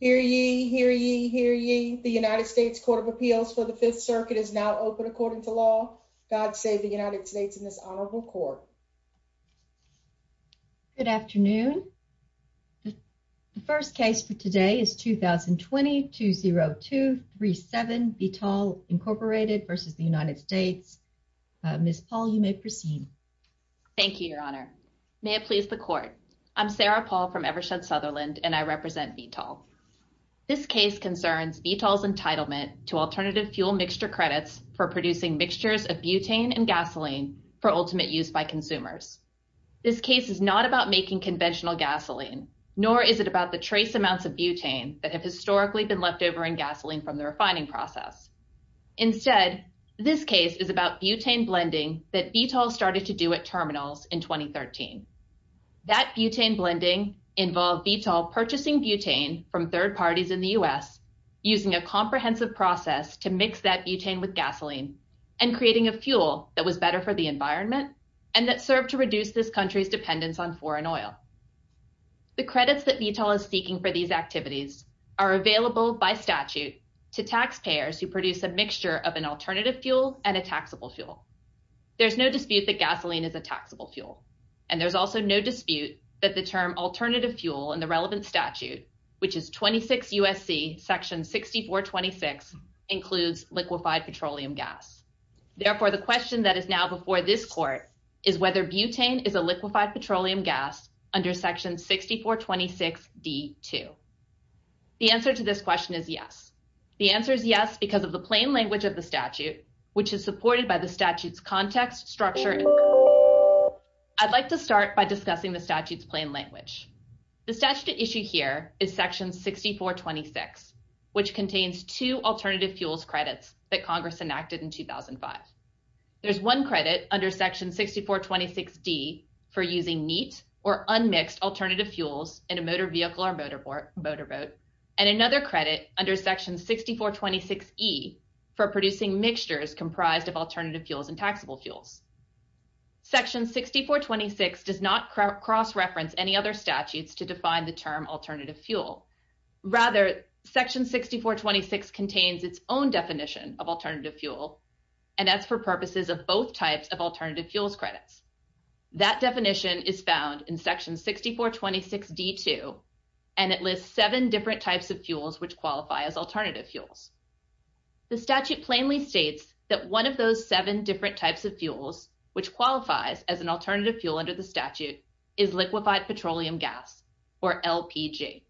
Hear ye, hear ye, hear ye. The United States Court of Appeals for the Fifth Circuit is now open according to law. God save the United States in this honorable court. Good afternoon. The first case for today is 2020-20237 Vitol Incorporated v. United States. Ms. Paul, you may proceed. Thank you, Your Honor. May it please the court. I'm Sarah Paul from Evershed Sutherland, and I represent Vitol. This case concerns Vitol's entitlement to alternative fuel mixture credits for producing mixtures of butane and gasoline for ultimate use by consumers. This case is not about making conventional gasoline, nor is it about the trace amounts of butane that have historically been left over in gasoline from the refining process. Instead, this case is about butane blending that Vitol started to do at terminals in 2013. That butane blending involved Vitol purchasing butane from third parties in the U.S., using a comprehensive process to mix that butane with gasoline and creating a fuel that was better for the environment and that served to reduce this country's dependence on foreign oil. The credits that Vitol is seeking for these activities are available by statute to taxpayers who produce a mixture of an alternative fuel and a taxable fuel. There's no dispute that the term alternative fuel in the relevant statute, which is 26 U.S.C. section 6426, includes liquefied petroleum gas. Therefore, the question that is now before this court is whether butane is a liquefied petroleum gas under section 6426d-2. The answer to this question is yes. The answer is yes because of the plain language of the statute, which is supported by statute's context, structure, and code. I'd like to start by discussing the statute's plain language. The statute at issue here is section 6426, which contains two alternative fuels credits that Congress enacted in 2005. There's one credit under section 6426d for using neat or unmixed alternative fuels in a motor vehicle or motor boat, and another credit under section 6426e for producing mixtures comprised of alternative fuels and taxable fuels. Section 6426 does not cross-reference any other statutes to define the term alternative fuel. Rather, section 6426 contains its own definition of alternative fuel, and that's for purposes of both types of alternative fuels credits. That definition is found in section 6426d-2, and it lists seven different types of fuels which qualify as alternative fuels. The statute plainly states that one of those seven different types of fuels which qualifies as an alternative fuel under the statute is liquefied petroleum gas or LPG.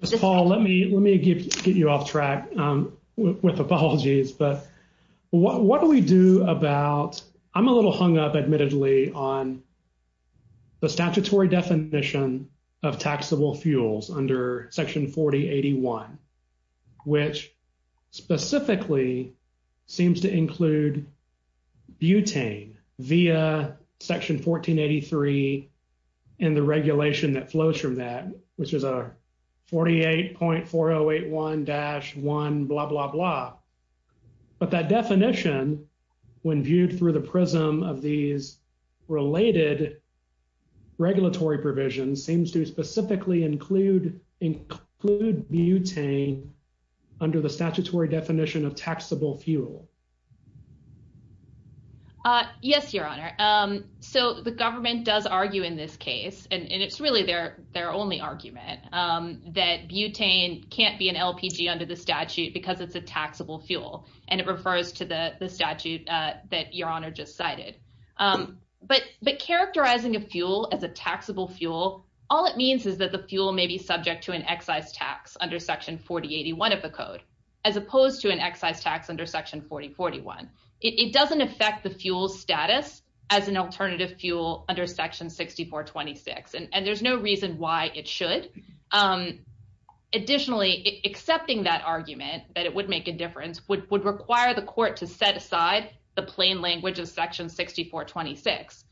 Ms. Paul, let me get you off track with apologies, but what do we do about, I'm a little hung up admittedly on the statutory definition of taxable fuels under section 4081, which specifically seems to include butane via section 1483 and the regulation that flows from that, which is a 48.4081-1 blah blah blah. But that definition, when viewed through the prism of these related regulatory provisions, seems to specifically include butane under the statutory definition of taxable fuel. Yes, your honor. So the government does argue in this case, and it's really their only argument, that butane can't be an LPG under the statute because it's a taxable fuel, and it refers to the statute that your honor just cited. But characterizing a fuel as a taxable fuel, all it means is that the fuel may be subject to an excise tax under section 4081 of the code, as opposed to an excise tax under section 4041. It doesn't affect the fuel's status as an alternative fuel under section 6426, and there's no reason why it should. Additionally, accepting that argument, that it would make a difference, would require the court to set aside the plain language of section 6426,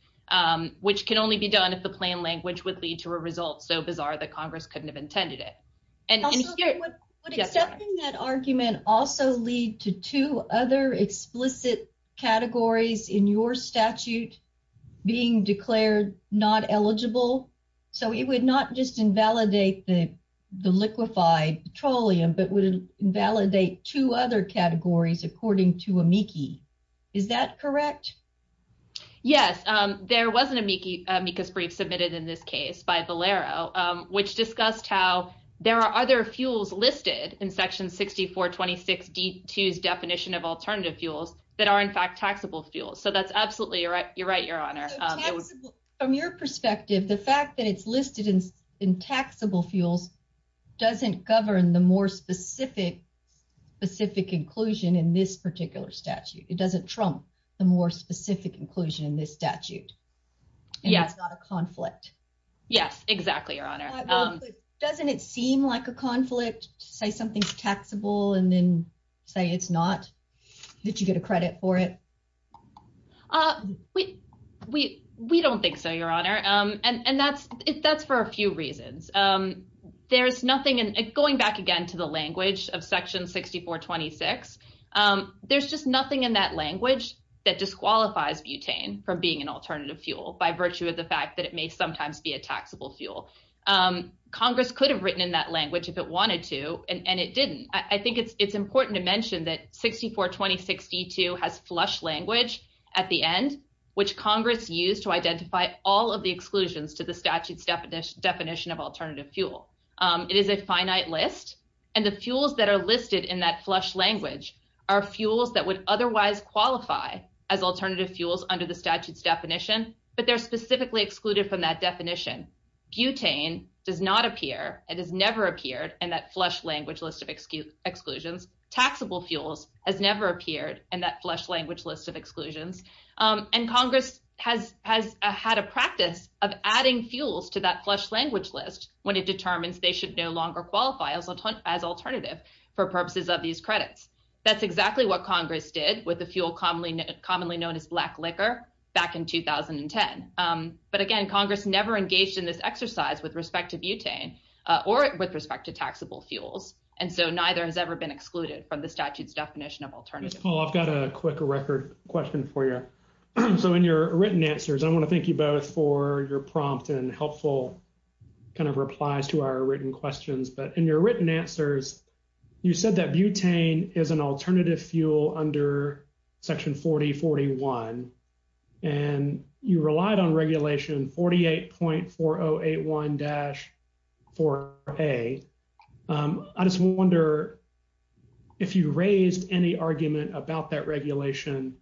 which can only be done if the plain language would lead to a result so bizarre that Congress couldn't have intended it. Would accepting that argument also lead to two other explicit categories in your statute being declared not eligible? So it would not just invalidate the liquefied petroleum, but would invalidate two other categories according to amici. Is that correct? Yes, there was an amicus brief submitted in this case by Valero, which discussed how there are other fuels listed in section 6426d2's definition of alternative fuels that are in fact taxable fuels. So that's absolutely right. You're right, Your Honor. From your perspective, the fact that it's listed in taxable fuels doesn't govern the more specific inclusion in this particular statute. It doesn't trump the more specific inclusion in this statute, and it's not a conflict. Yes, exactly, Your Honor. Doesn't it seem like a conflict, say something's taxable and then say it's not, that you get a credit for it? We don't think so, Your Honor, and that's for a few reasons. Going back again to the language of section 6426, there's just nothing in that language that disqualifies butane from being an alternative fuel by virtue of the fact that it may sometimes be a taxable fuel. Congress could have written in that language if it wanted to, and it didn't. I think it's important to mention that 6426d2 has flush language at the end, which Congress used to identify all of the exclusions to the statute's definition of alternative fuel. It is a finite list, and the fuels that are listed in that flush language are fuels that would otherwise qualify as alternative fuels under the statute's definition, but they're specifically excluded from that definition. Butane does not appear and has never appeared in that flush language list of exclusions. Taxable fuels has never appeared in that flush language list of exclusions, and Congress has had a practice of adding fuels to that flush language list when it determines they should no longer qualify as alternative for purposes of these credits. That's exactly what in this exercise with respect to butane or with respect to taxable fuels. And so, neither has ever been excluded from the statute's definition of alternative. Paul, I've got a quick record question for you. So, in your written answers, I want to thank you both for your prompt and helpful kind of replies to our written questions. But in your written answers, you said that butane is an alternative fuel under section 4041, and you relied on 48.4081-4A. I just wonder if you raised any argument about that regulation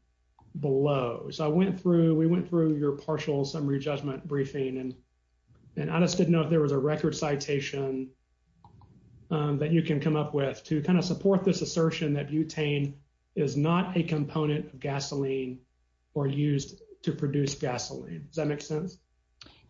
below. So, we went through your partial summary judgment briefing, and I just didn't know if there was a record citation that you can come up with to kind of support this assertion that butane is not a component of gasoline or used to produce gasoline. Does that make sense?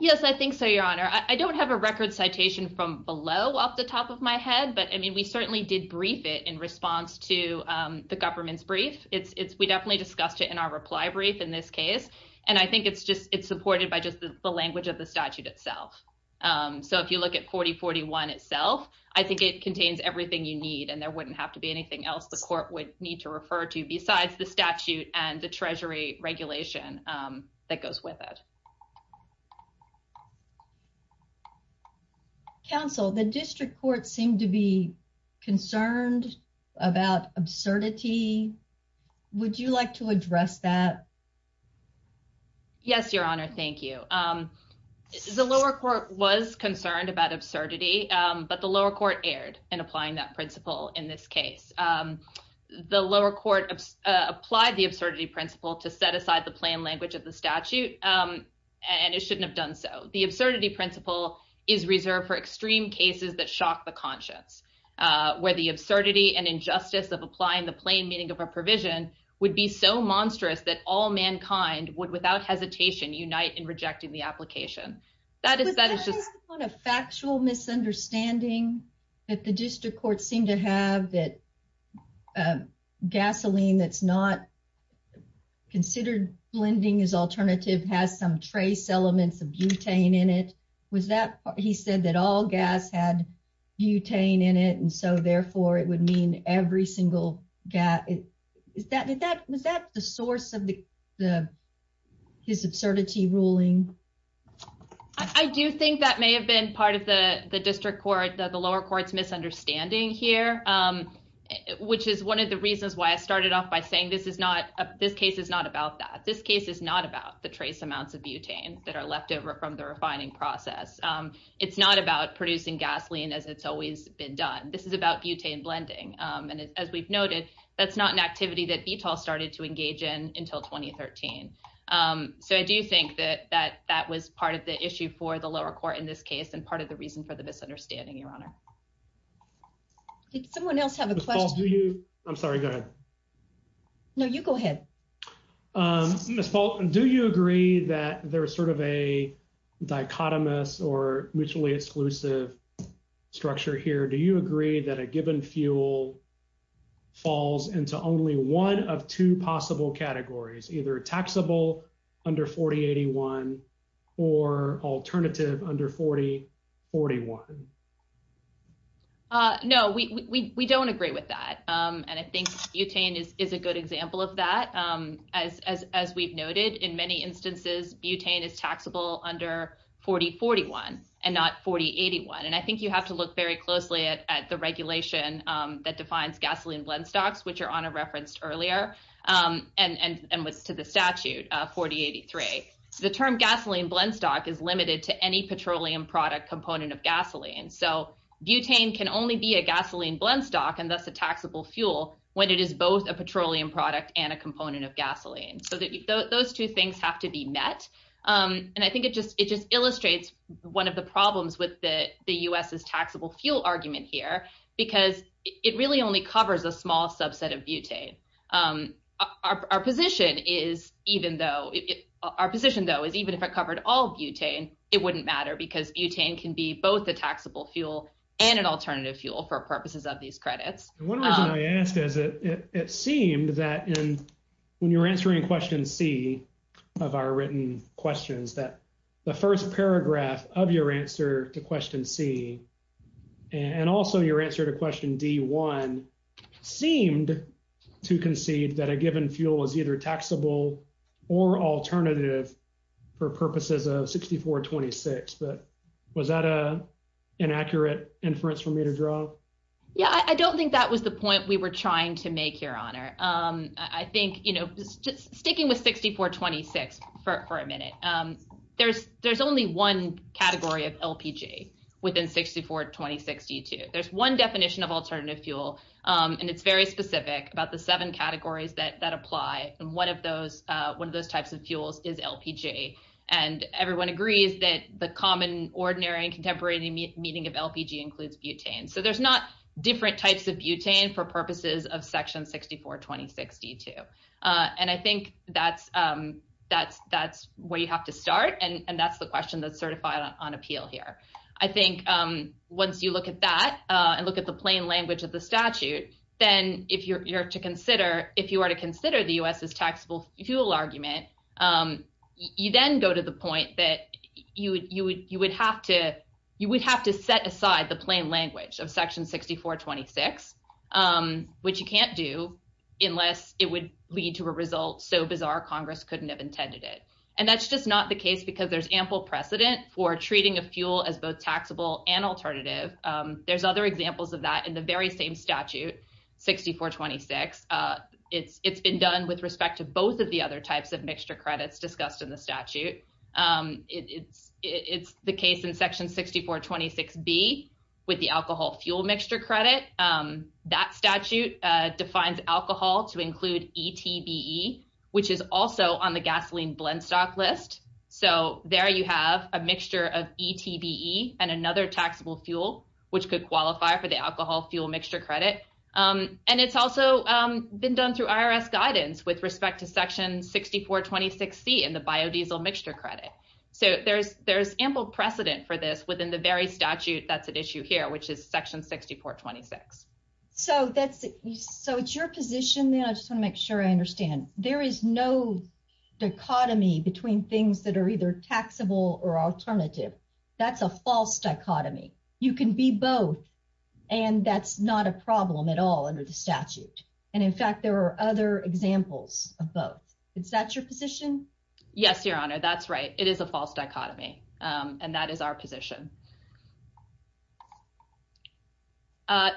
Yes, I think so, Your Honor. I don't have a record citation from below off the top of my head, but I mean, we certainly did brief it in response to the government's brief. We definitely discussed it in our reply brief in this case, and I think it's supported by just the language of the statute itself. So, if you look at 4041 itself, I think it contains everything you need, and there wouldn't have to be anything else the court would need to refer to besides the statute and the treasury regulation that goes with it. Counsel, the district court seemed to be concerned about absurdity. Would you like to address that? Yes, Your Honor. Thank you. The lower court was concerned about absurdity, but the lower court erred in applying that principle in this case. The lower court applied the absurdity principle to set aside the plain language of the statute, and it shouldn't have done so. The absurdity principle is reserved for extreme cases that shock the conscience, where the absurdity and injustice of applying the plain meaning of a provision would be so monstrous that all mankind would, without hesitation, unite in rejecting the statute. Was that an understanding that the district court seemed to have that gasoline that's not considered blending as alternative has some trace elements of butane in it? He said that all gas had butane in it, and so, therefore, it would mean every single gas. Was that the source of his absurdity ruling? I do think that may have been part of the district court, the lower court's misunderstanding here, which is one of the reasons why I started off by saying this case is not about that. This case is not about the trace amounts of butane that are left over from the refining process. It's not about producing gasoline as it's always been done. This is about butane blending, and as we've noted, that's not an activity that BTOL started to engage in until 2013, so I do think that that was part of the issue for the lower court in this case and part of the reason for the misunderstanding, Your Honor. Did someone else have a question? I'm sorry, go ahead. No, you go ahead. Ms. Fulton, do you agree that there's sort of a dichotomous or mutually exclusive structure here? Do you agree that a given fuel falls into only one of two possible categories, either taxable under 4081 or alternative under 4041? No, we don't agree with that, and I think butane is a good example of that. As we've noted, in many instances, butane is taxable under 4041 and not 4081, and I think you have to look very closely at the regulation that defines gasoline blend stocks, which Your Honor referenced earlier and was to the statute 4083. The term gasoline blend stock is limited to any petroleum product component of gasoline, so butane can only be a gasoline blend stock and thus a taxable fuel when it is both a petroleum product and a component of gasoline. So those two things have to be met, and I think it just illustrates one of the problems with the U.S.'s taxable fuel argument here because it really only covers a small subset of butane. Our position, though, is even if it covered all butane, it wouldn't matter because butane can be both a taxable fuel and an alternative fuel for purposes of these credits. One reason I ask is it seemed that in when you're answering question C of our written questions that the first paragraph of your answer to question C and also your answer to question D1 seemed to concede that a given fuel was either taxable or alternative for purposes of 6426, but was that an accurate inference for me to draw? Yeah, I don't think that was the point we were trying to make, Your Honor. I think, you know, just sticking with 6426 for a minute, there's only one category of LPG within 6426 U2. There's one definition of alternative fuel, and it's very specific about the seven categories that apply, and one of those types of fuels is LPG, and everyone agrees that the common, ordinary, and contemporary meaning of LPG includes butane, so there's not different types of butane for purposes of section 6426 U2, and I think that's where you have to start, and that's the question that's certified on appeal here. I think once you look at that and look at the plain language of the statute, then if you are to consider the U.S.'s fuel argument, you then go to the point that you would have to set aside the plain language of section 6426, which you can't do unless it would lead to a result so bizarre Congress couldn't have intended it, and that's just not the case because there's ample precedent for treating a fuel as both taxable and alternative. There's other examples of that in the very same statute, 6426. It's been done with respect to both of the other types of mixture credits discussed in the statute. It's the case in section 6426B with the alcohol fuel mixture credit. That statute defines alcohol to include ETBE, which is also on the gasoline blend stock list, so there you have a mixture of ETBE and another taxable fuel which could qualify for the alcohol fuel mixture credit, and it's also been done through IRS guidance with respect to section 6426C in the biodiesel mixture credit, so there's ample precedent for this within the very statute that's at issue here, which is section 6426. So it's your position, and I just want to make sure I understand. There is no dichotomy between things that are either taxable or alternative. That's a false dichotomy. You can be both, and that's not a problem at all under the statute, and in fact, there are other examples of both. Is that your position? Yes, Your Honor. That's right. It is a false dichotomy, and that is our position.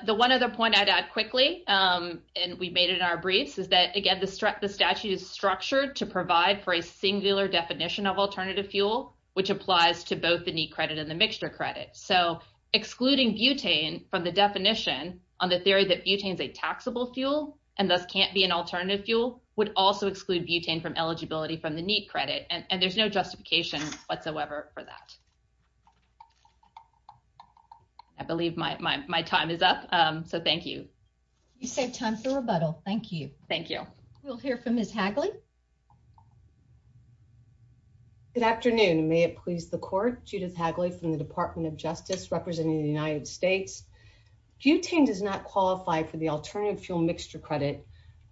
The one other point I'd add quickly, and we made it in our briefs, is that, again, the statute is structured to provide for a singular definition of alternative fuel, which applies to both the NEET credit and the mixture credit, so excluding butane from the definition on the theory that butane is a taxable fuel and thus can't be an alternative fuel would also exclude butane from eligibility from the NEET credit, and there's no justification whatsoever for that. I believe my time is up, so thank you. You saved time for rebuttal. Thank you. Thank you. We'll hear from Ms. Hagley. Good afternoon, and may it please the Court. Judith Hagley from the Department of Justice, representing the United States. Butane does not qualify for the alternative fuel mixture credit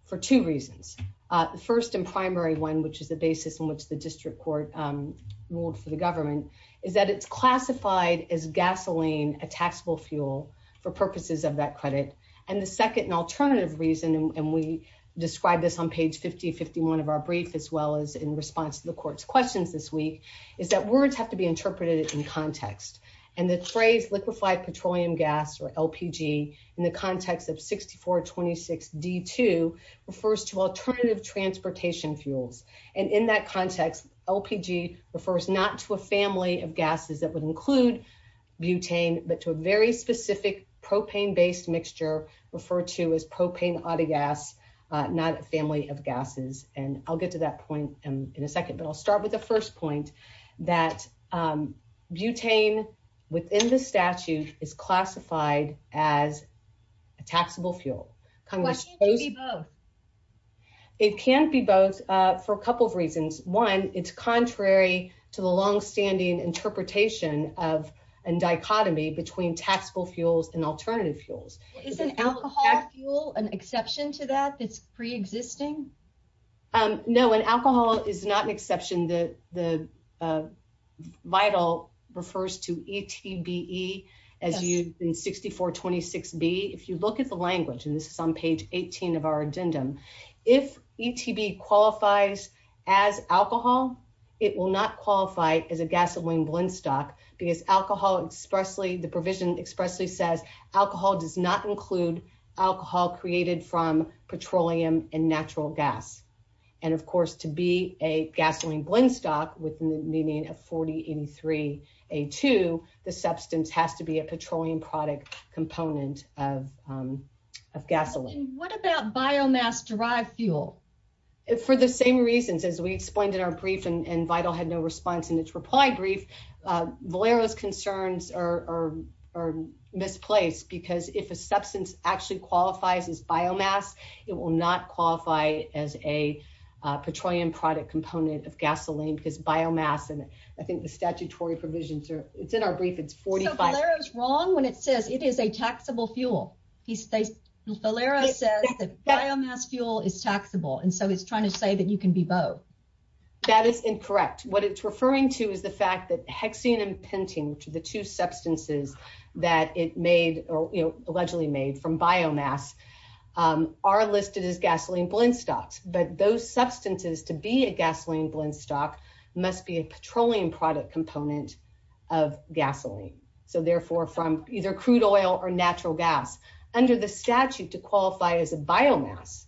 for two reasons. The first and primary one, which is the basis on which the district court ruled for the government, is that it's classified as gasoline, a taxable fuel, for purposes of that credit, and the second and alternative reason, and we as well as in response to the Court's questions this week, is that words have to be interpreted in context, and the phrase liquefied petroleum gas, or LPG, in the context of 6426D2 refers to alternative transportation fuels, and in that context, LPG refers not to a family of gases that would include butane, but to a very specific propane-based mixture referred to as propane autogas, not a family of gases, and I'll get to that point in a second, but I'll start with the first point, that butane within the statute is classified as a taxable fuel. Why can't it be both? It can't be both for a couple of reasons. One, it's contrary to the long-standing interpretation of a dichotomy between taxable fuels and alternative fuels. Is an alcohol fuel an exception to that that's pre-existing? No, an alcohol is not an exception. The vital refers to ETBE as used in 6426B. If you look at the language, and this is on page 18 of our addendum, if ETBE qualifies as alcohol, it will not qualify as a gasoline blend stock, because alcohol expressly, the provision expressly says alcohol does not include alcohol created from petroleum and natural gas, and of course, to be a gasoline blend stock within the meaning of 4083A2, the substance has to be a petroleum product component of gasoline. What about biomass-derived fuel? For the same reasons, as we explained in our brief, and Vital had no response in its reply brief, Valero's concerns are misplaced, because if a substance actually qualifies as biomass, it will not qualify as a petroleum product component of gasoline, because biomass, and I think the statutory provisions are, it's in our brief, it's 45- So Valero's wrong when it says it is a taxable fuel. Valero says that biomass fuel is taxable, and so he's trying to say that you can be both. That is incorrect. What it's referring to is the fact that hexane and pentane, which are the two substances that it made, or allegedly made from biomass, are listed as gasoline blend stocks, but those substances, to be a gasoline blend stock, must be a petroleum product component of gasoline, so therefore from either crude oil or natural gas. Under the statute to qualify as a biomass,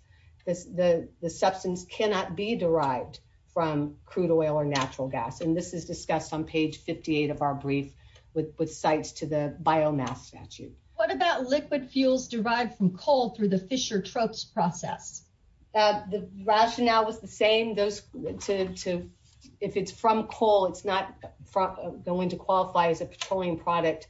the substance cannot be derived from crude oil or natural gas, and this is discussed on page 58 of our brief with cites to the biomass statute. What about liquid fuels derived from coal through the Fischer-Tropsch process? The rationale was the same. If it's from coal, it's not going to qualify as a petroleum product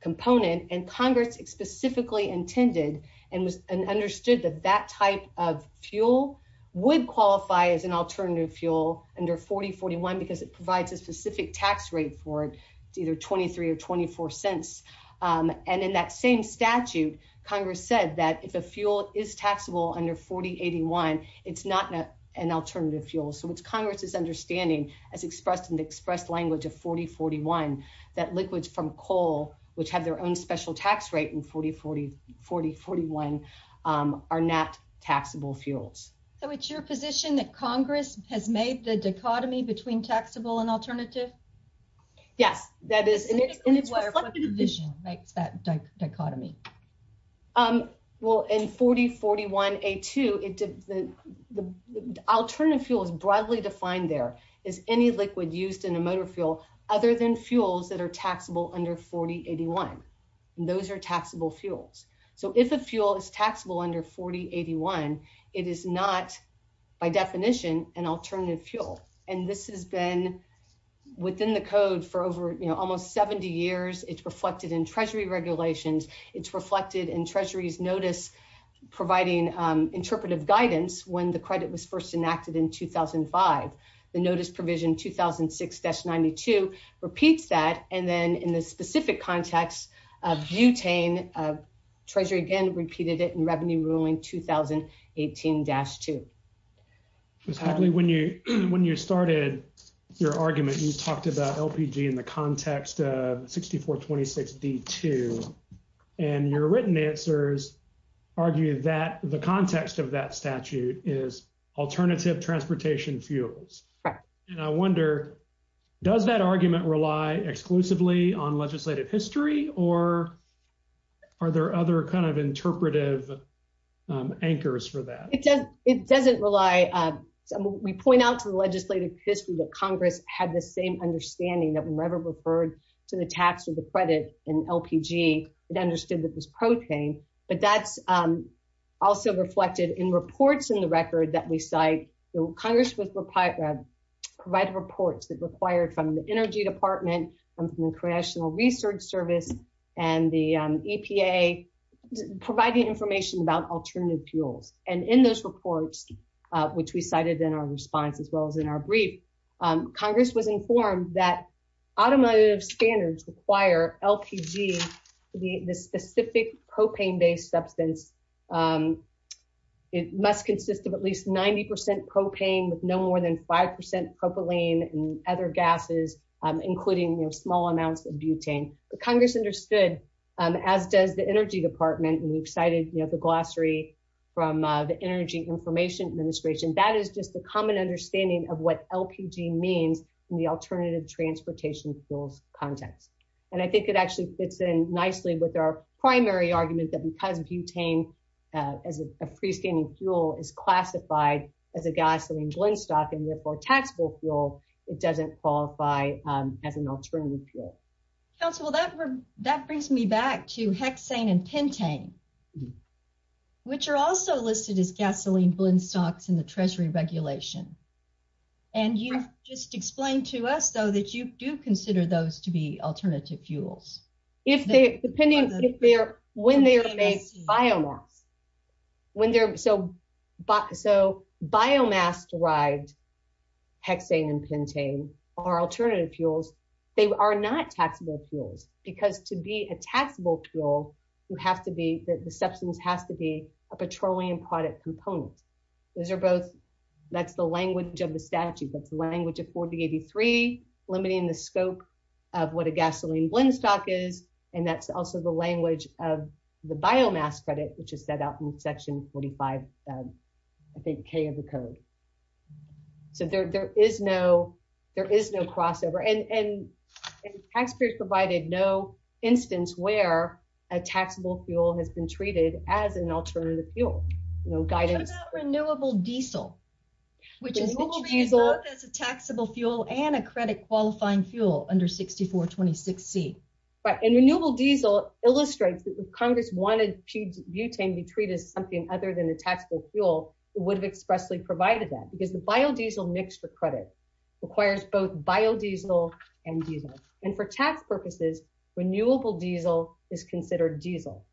component, and Congress specifically intended and understood that that type of fuel would qualify as an alternative fuel under 4041 because it provides a specific tax rate for it, either 23 or 24 cents, and in that same statute, Congress said that if a fuel is taxable under 4081, it's not an alternative fuel. So it's Congress's understanding, as expressed in the express language of 4041, that liquids from coal, which have their own special tax rate in 4041, are not taxable fuels. So it's your position that Congress has made the dichotomy between taxable and alternative? Yes, that is. And it's reflected in the division that makes that dichotomy. Well, in 4041A2, the alternative fuel is broadly defined there. It's any liquid used in a motor fuel other than fuels that are taxable under 4081. Those are taxable fuels. So if a fuel is taxable under 4081, it is not, by definition, an alternative fuel. And this has been within the code for almost 70 years. It's reflected in Treasury regulations. It's reflected in Treasury's notice providing interpretive guidance when the credit was first enacted in 2005. The notice provision 2006-92 repeats that. And then in the specific context of butane, Treasury again repeated it in Revenue Ruling 2018-2. Ms. Hagley, when you started your argument, you talked about LPG in the context of 6426D2. And your written answers argue that the context of that statute is alternative transportation fuel. And I wonder, does that argument rely exclusively on legislative history? Or are there other kind of interpretive anchors for that? It doesn't rely. We point out to the legislative history that Congress had the same understanding that whenever referred to the tax or the credit in LPG, it understood that it was protane. But that's also reflected in reports in the record that we cite. Congress provided reports that required from the Energy Department and from the Congressional Research Service and the EPA providing information about alternative fuels. And in those reports, which we cited in our response as well as in our brief, Congress was informed that automotive standards require LPG, the specific propane-based substance, and it must consist of at least 90 percent propane with no more than 5 percent propylene and other gases, including small amounts of butane. Congress understood, as does the Energy Department, and we've cited the glossary from the Energy Information Administration. That is just a common understanding of what LPG means in the alternative transportation fuels context. And I think it actually fits in nicely with our primary argument that because butane, as a free-standing fuel, is classified as a gasoline blendstock and therefore a taxable fuel, it doesn't qualify as an alternative fuel. Council, that brings me back to hexane and pentane, which are also listed as gasoline blendstocks in the Treasury regulation. And you've just explained to us, though, that you do consider those to be alternative fuels. If they're—depending if they're—when they're made biomass, when they're—so biomass-derived hexane and pentane are alternative fuels. They are not taxable fuels because to be a taxable fuel, you have to be—the substance has to be a petroleum product component. Those are both—that's the language of the statute. That's the language of 4083, limiting the scope of what a gasoline blendstock is, and that's also the language of the biomass credit, which is set out in Section 45, I think, K of the Code. So there is no—there is no crossover, and taxpayers provided no instance where a taxable fuel has been treated as an alternative fuel. No guidance— What about renewable diesel, which is— Renewable diesel— —as a taxable fuel and a credit-qualifying fuel under 6426C. Right. And renewable diesel illustrates that if Congress wanted butane to be treated as something other than a taxable fuel, it would have expressly provided that, because the biodiesel mixture credit requires both biodiesel and diesel. And for tax purposes, renewable diesel is considered diesel.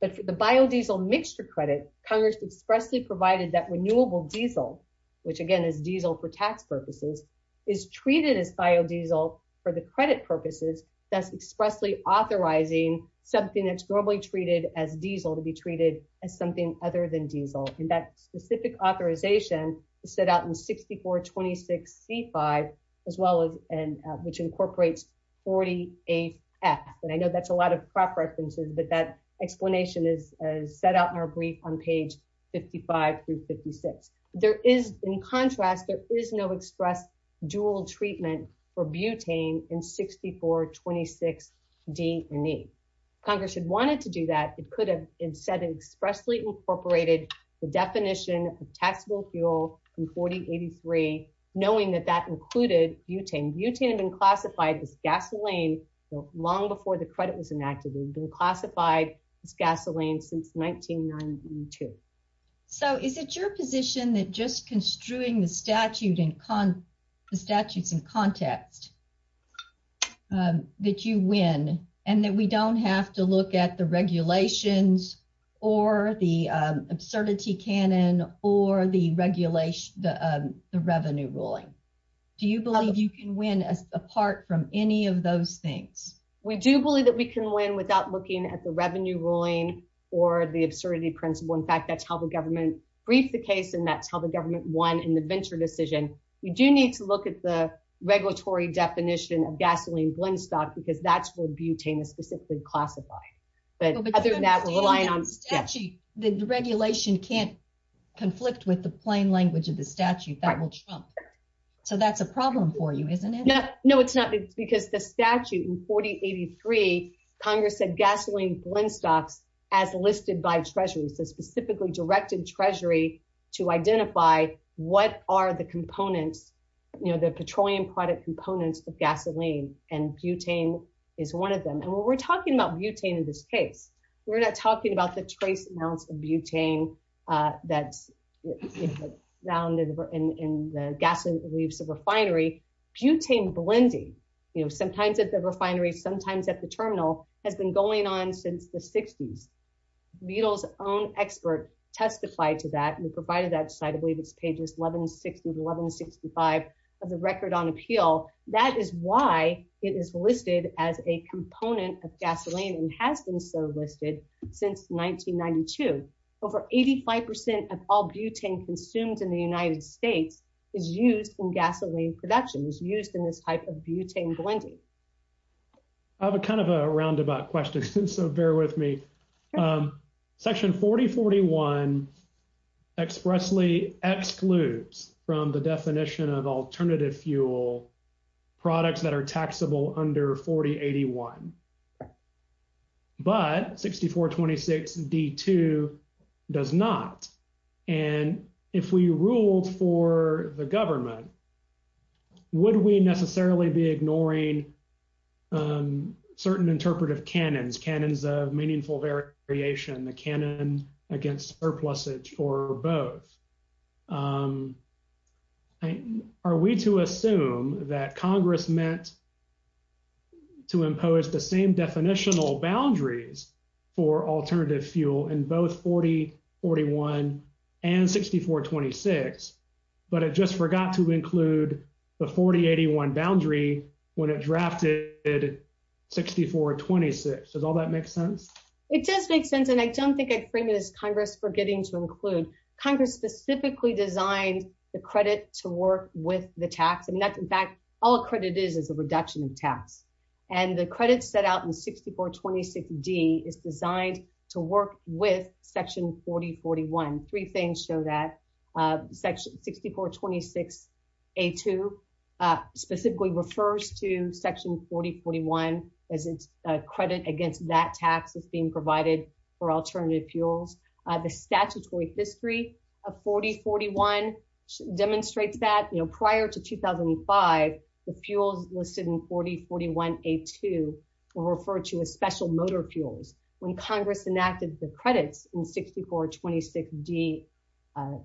But for the biodiesel mixture credit, Congress expressly provided that renewable diesel, which, again, is diesel for tax purposes, is treated as biodiesel for the credit purposes, thus expressly authorizing something that's normally treated as diesel to be treated as something other than diesel. And that specific authorization is set out in 6426C-5, as well as—which incorporates 48F. And I know that's a lot of prep references, but that explanation is set out in our brief on page 55 through 56. There is—in contrast, there is no express dual treatment for butane in 6426D and E. Congress had wanted to do that. It could have instead expressly incorporated the definition of taxable fuel in 4083, knowing that that included butane. Butane had been classified as gasoline long before the credit was enacted. It had been classified as gasoline since 1992. So, is it your position that just construing the statute in—the statutes in context that you win, and that we don't have to look at the regulations or the absurdity canon or the regulation—the revenue ruling? Do you believe you can win apart from any of those things? We do believe that we can win without looking at the revenue ruling or the absurdity principle. In fact, that's how the government briefed the case, and that's how the government won in the Venture decision. We do need to look at the regulatory definition of gasoline blend stock because that's what butane is specifically classified. But other than that, relying on— But the regulation can't conflict with the plain language of the statute. That will trump. So, that's a problem for you, isn't it? No, it's not, because the statute in 4083, Congress said gasoline blend stocks as listed by Treasury. So, specifically directed Treasury to identify what are the components, you know, the petroleum product components of gasoline, and butane is one of them. And when we're talking about butane in this case, we're not talking about the trace amounts of butane that's found in the gasoline leaves of refinery. Butane blending, you know, sometimes at the refinery, sometimes at the terminal, has been going on since the 60s. Butyl's own expert testified to that and provided that site. I believe it's pages 1160 to 1165 of the Record on Appeal. That is why it is listed as a component of gasoline and has been so listed since 1992. Over 85% of all butane consumed in the United States is used in gasoline production, is used in this type of butane blending. I have a kind of a roundabout question, so bear with me. Section 4041 expressly excludes from the definition of alternative fuel products that are taxable under 4081. But 6426d2 does not. And if we ruled for the government, would we necessarily be ignoring certain interpretive canons, canons of meaningful variation, the canon against surplusage or both? Are we to assume that Congress meant to impose the same definitional boundaries for alternative fuel in both 4041 and 6426, but it just forgot to include the 4081 boundary when it drafted 6426? Does all that make sense? It does make sense, and I don't think I'd frame it as Congress forgetting to include. Congress specifically designed the credit to work with the tax. I mean, in fact, all a credit is is a reduction of tax. And the credit set out in 6426d is designed to work with section 4041. Three things show that section 6426a2 specifically refers to section 4041 as its credit against that tax is being provided for alternative fuels. The statutory history of 4041 demonstrates that, you know, prior to 2005, the fuels listed in 4041a2 were referred to as special motor fuels. When Congress enacted the credits in 6426d and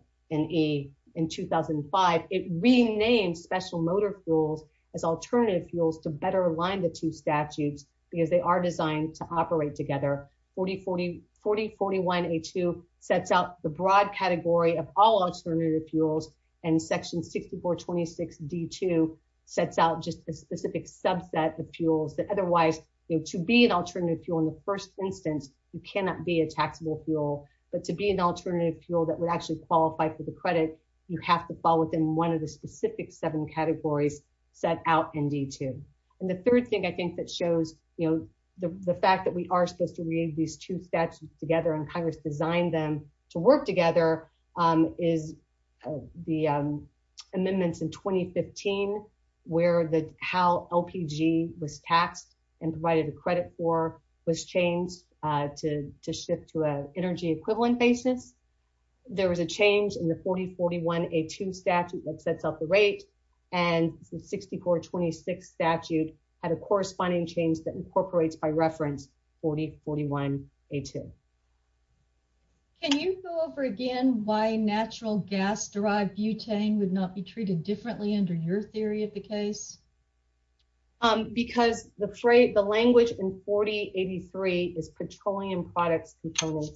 e in 2005, it renamed special motor fuels as alternative fuels to better align the two statutes because they are designed to operate together. 4041a2 sets out the broad category of all alternative fuels, and section 6426d2 sets out just a specific subset of fuels that otherwise, you know, to be an alternative fuel in the first instance, you cannot be a taxable fuel, but to be an alternative fuel that would actually qualify for the credit, you have to fall within one of the specific seven categories set out in d2. And the third thing I think that shows, you know, the fact that we are supposed to read these two statutes together and Congress designed them to work together is the amendments in 2015, where the how LPG was taxed and provided a credit for was changed to shift to an energy equivalent basis. There was a change in the 4041a2 statute that sets out the rate, and the 6426 statute had a corresponding change that incorporates by reference 4041a2. Can you go over again why natural gas derived butane would not be treated differently under your theory of the case? Because the phrase, the language in 4083 is petroleum products components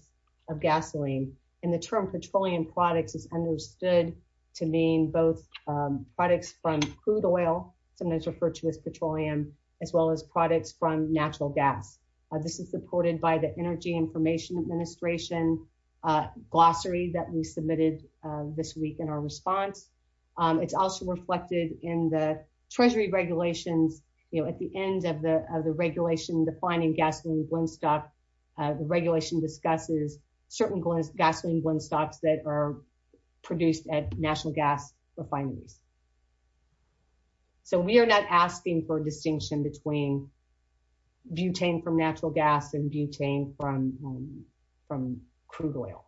of gasoline, and the term petroleum products is understood to mean both products from crude oil, sometimes referred to as petroleum, as well as products from natural gas. This is supported by the Energy Information Administration glossary that we submitted this week in our response. It's also reflected in the Treasury regulations, you know, at the end of the of the regulation defining gasoline blendstock, the regulation discusses certain gasoline blendstocks that are produced at national gas refineries. So, we are not asking for distinction between butane from natural gas and butane from crude oil.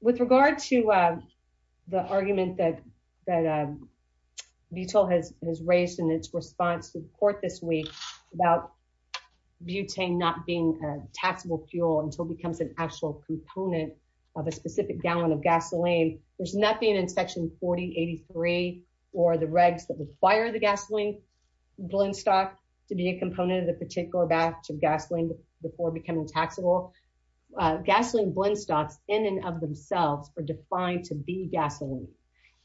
With regard to the argument that Butyl has raised in its response to the court this week about butane not being a taxable fuel until it becomes an actual component of a specific gallon of gasoline, there's nothing in section 4083 or the regs that require the gasoline blendstock to be a component of the particular batch of gasoline before becoming taxable. Gasoline blendstocks in and of themselves are defined to be gasoline,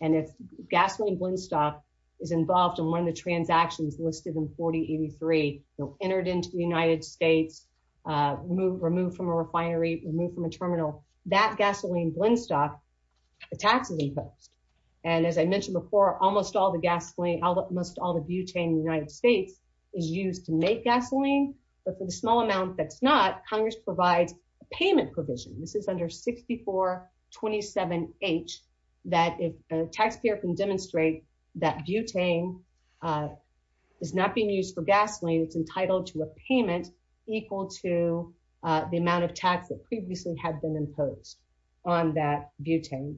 and if gasoline is listed in 4083, you know, entered into the United States, removed from a refinery, removed from a terminal, that gasoline blendstock, the tax is imposed. And as I mentioned before, almost all the butane in the United States is used to make gasoline, but for the small amount that's not, Congress provides a payment provision. This is under 6427H that if a taxpayer can demonstrate that butane is not being used for gasoline, it's entitled to a payment equal to the amount of tax that previously had been imposed on that butane.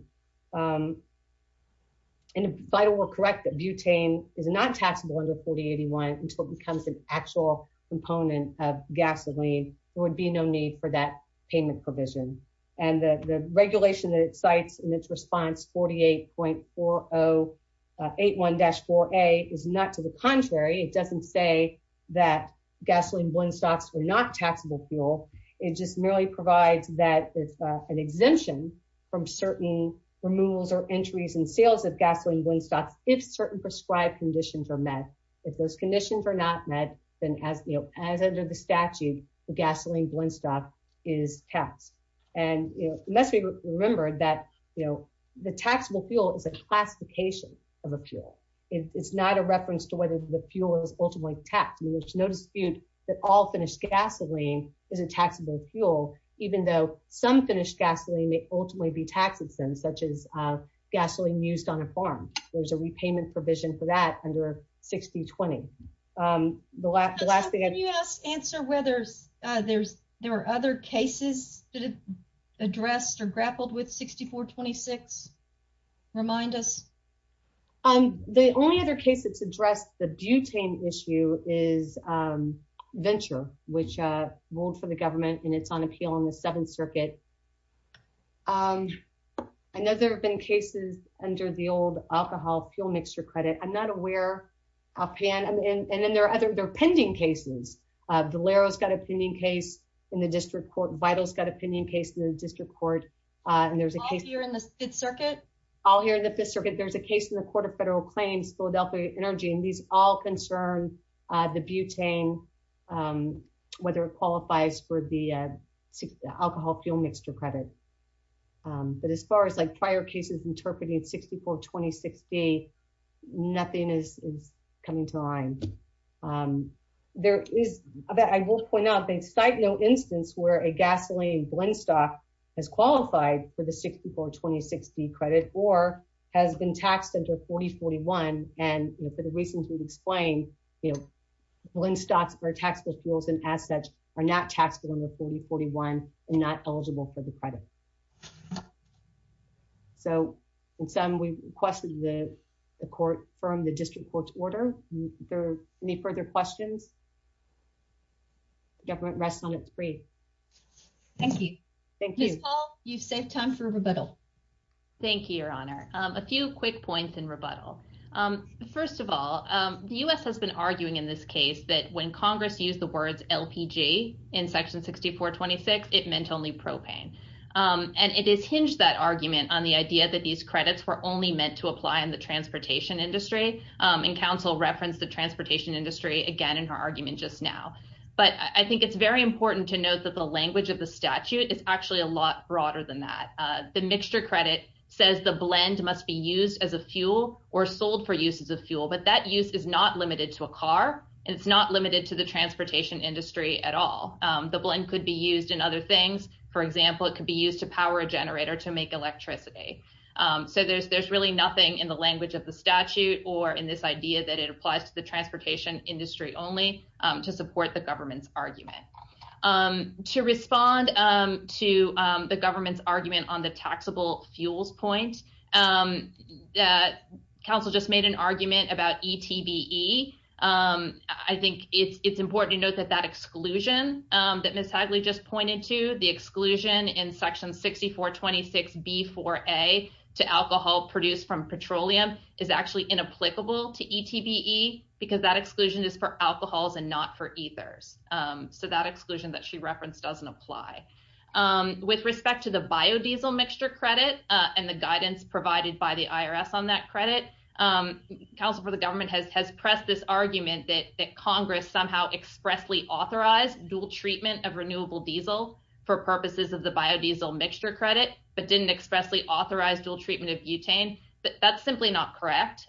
And if Butyl were correct that butane is not taxable under 4081 until it becomes an actual component of gasoline, there would be no need for that payment provision. And the regulation that it cites in its response, 48.4081-4A, is not to the contrary. It doesn't say that gasoline blendstocks are not taxable fuel. It just merely provides that it's an exemption from certain removals or entries and sales of gasoline blendstocks if certain prescribed conditions are met. If those conditions are not met, then as under the statute, the gasoline blendstock is taxed. And it must be remembered that the taxable fuel is a classification of a fuel. It's not a reference to whether the fuel is ultimately taxed. There's no dispute that all finished gasoline is a taxable fuel, even though some finished gasoline may ultimately be taxed, such as gasoline used on a farm. There's a repayment provision for that under 6020. The last thing I'd- Can you answer whether there are other cases that are addressed or grappled with 6426? Remind us. The only other case that's addressed the butane issue is Venture, which ruled for the government and it's on appeal in the Seventh Circuit. I know there have been cases under the old alcohol fuel mixture credit. I'm not aware, I'll pan, and then there are other pending cases. Valero's got a pending case in the district court. Vital's got a pending case in the district court. And there's a case- All here in the Fifth Circuit? All here in the Fifth Circuit. There's a case in the Court of Federal Claims, Philadelphia Energy. But as far as prior cases interpreting 6426B, nothing is coming to mind. There is, I will point out, they cite no instance where a gasoline blend stock has qualified for the 6426B credit or has been taxed under 4041. And for the reasons we've explained, you know, blend stocks or taxable fuels and assets are not taxable under 4041 and not eligible for the credit. So in sum, we requested the court from the district court's order. Are there any further questions? The government rests on its free. Thank you. Thank you. Ms. Hall, you've saved time for rebuttal. Thank you, Your Honor. A few quick points in rebuttal. First of all, the U.S. has been arguing in this case that when Congress used the words LPG in Section 6426, it meant only propane. And it has hinged that argument on the idea that these credits were only meant to apply in the transportation industry. And counsel referenced the transportation industry again in her argument just now. But I think it's very important to note that the language of the statute is actually a lot broader than that. The mixture credit says the blend must be used as a fuel or sold for use as a fuel. But that use is not limited to a car and it's not limited to the transportation industry at all. The blend could be used in other things. For example, it could be used to power a generator to make electricity. So there's really nothing in the language of the statute or in this idea that it applies to the transportation industry only to support the government's argument. To respond to the government's argument on the taxable fuels point, that counsel just made an argument about ETBE. I think it's important to note that that exclusion that Ms. Hagley just pointed to, the exclusion in Section 6426B4A to alcohol produced from petroleum is actually inapplicable to ETBE because that exclusion is for alcohols and not for ethers. So that exclusion that she referenced doesn't apply. With respect to the biodiesel mixture credit and the guidance provided by the IRS on that credit, counsel for the government has pressed this argument that Congress somehow expressly authorized dual treatment of renewable diesel for purposes of the biodiesel mixture credit but didn't expressly authorize dual treatment of butane. That's simply not correct.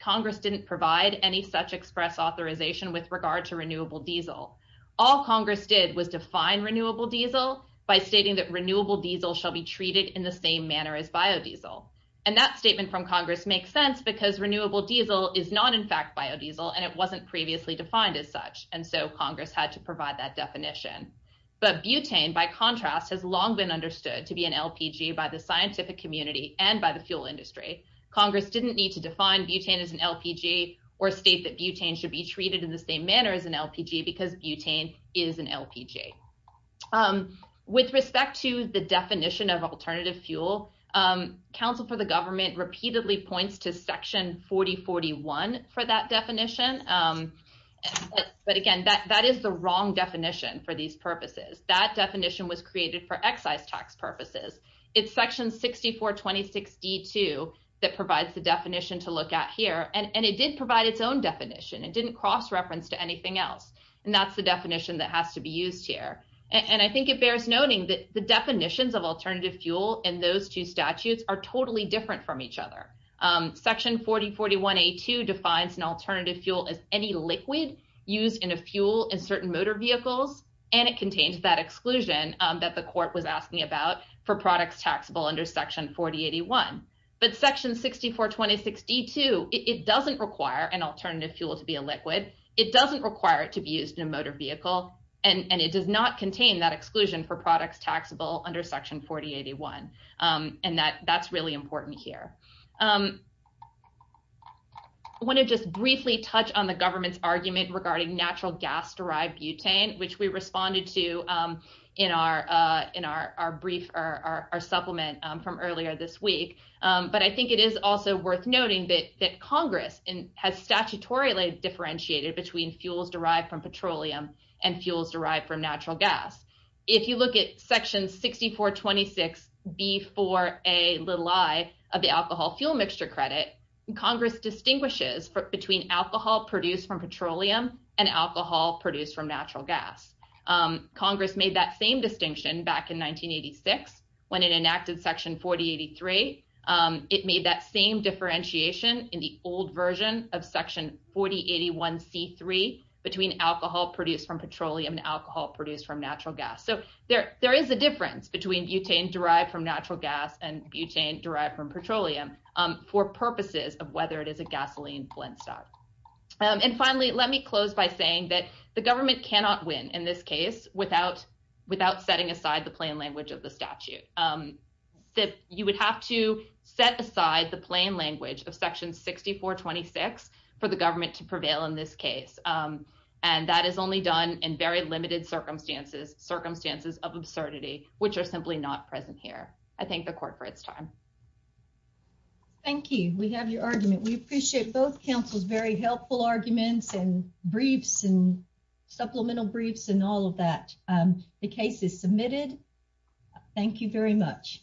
Congress didn't provide any such express authorization with regard to renewable diesel. All Congress did was define renewable diesel by stating that renewable diesel shall be treated in the same manner as biodiesel. And that statement from Congress makes sense because renewable diesel is not in fact biodiesel and it wasn't previously defined as such. And so Congress had to provide that definition. But butane, by contrast, has long been understood to be an LPG by the scientific community and by the fuel industry. Congress didn't need to define butane as an LPG or state that butane should be treated in the same manner as an LPG because butane is an LPG. With respect to the definition of alternative fuel, counsel for the government repeatedly points to section 4041 for that definition. But again, that is the wrong definition for these purposes. That definition was created for excise tax purposes. It's section 6426D2 that provides the definition to look at here. And it did provide its own definition. It didn't cross reference to anything else. And that's the definition that has to be used here. And I think it bears noting that the definitions of alternative fuel in those two statutes are totally different from each other. Section 4041A2 defines an alternative fuel as any liquid used in a fuel in certain motor vehicles. And it contains that exclusion that the court was asking about for products taxable under section 4081. But section 6426D2, it doesn't require an alternative fuel to be a liquid. It doesn't require it to be used in a motor vehicle. And it does not contain that exclusion for products taxable under section 4081. And that's really important here. I want to just briefly touch on the government's argument regarding natural gas-derived butane, which we responded to in our supplement from earlier this week. But I think it is also worth noting that Congress has statutorily differentiated between fuels derived from petroleum and fuels derived from natural gas. If you look at section 6426B4A of the alcohol fuel mixture credit, Congress distinguishes between alcohol produced from petroleum and alcohol produced from natural gas. Congress made that same distinction back in 1986 when it enacted section 4083. It made that same differentiation in the old version of section 4081C3 between alcohol produced from petroleum and alcohol produced from natural gas. So there is a difference between butane derived from natural gas and butane derived from petroleum for purposes of whether it is a gasoline blendstock. And finally, let me close by saying that the government cannot win in this case without setting aside the plain language of the statute. You would have to set aside the plain language of section 6426 for the government to prevail in this case. And that is only done in very limited circumstances, circumstances of absurdity, which are simply not present here. I thank the court for its time. Thank you. We have your argument. We appreciate both counsel's very helpful arguments and briefs and supplemental briefs and all of that. The case is submitted. Thank you very much.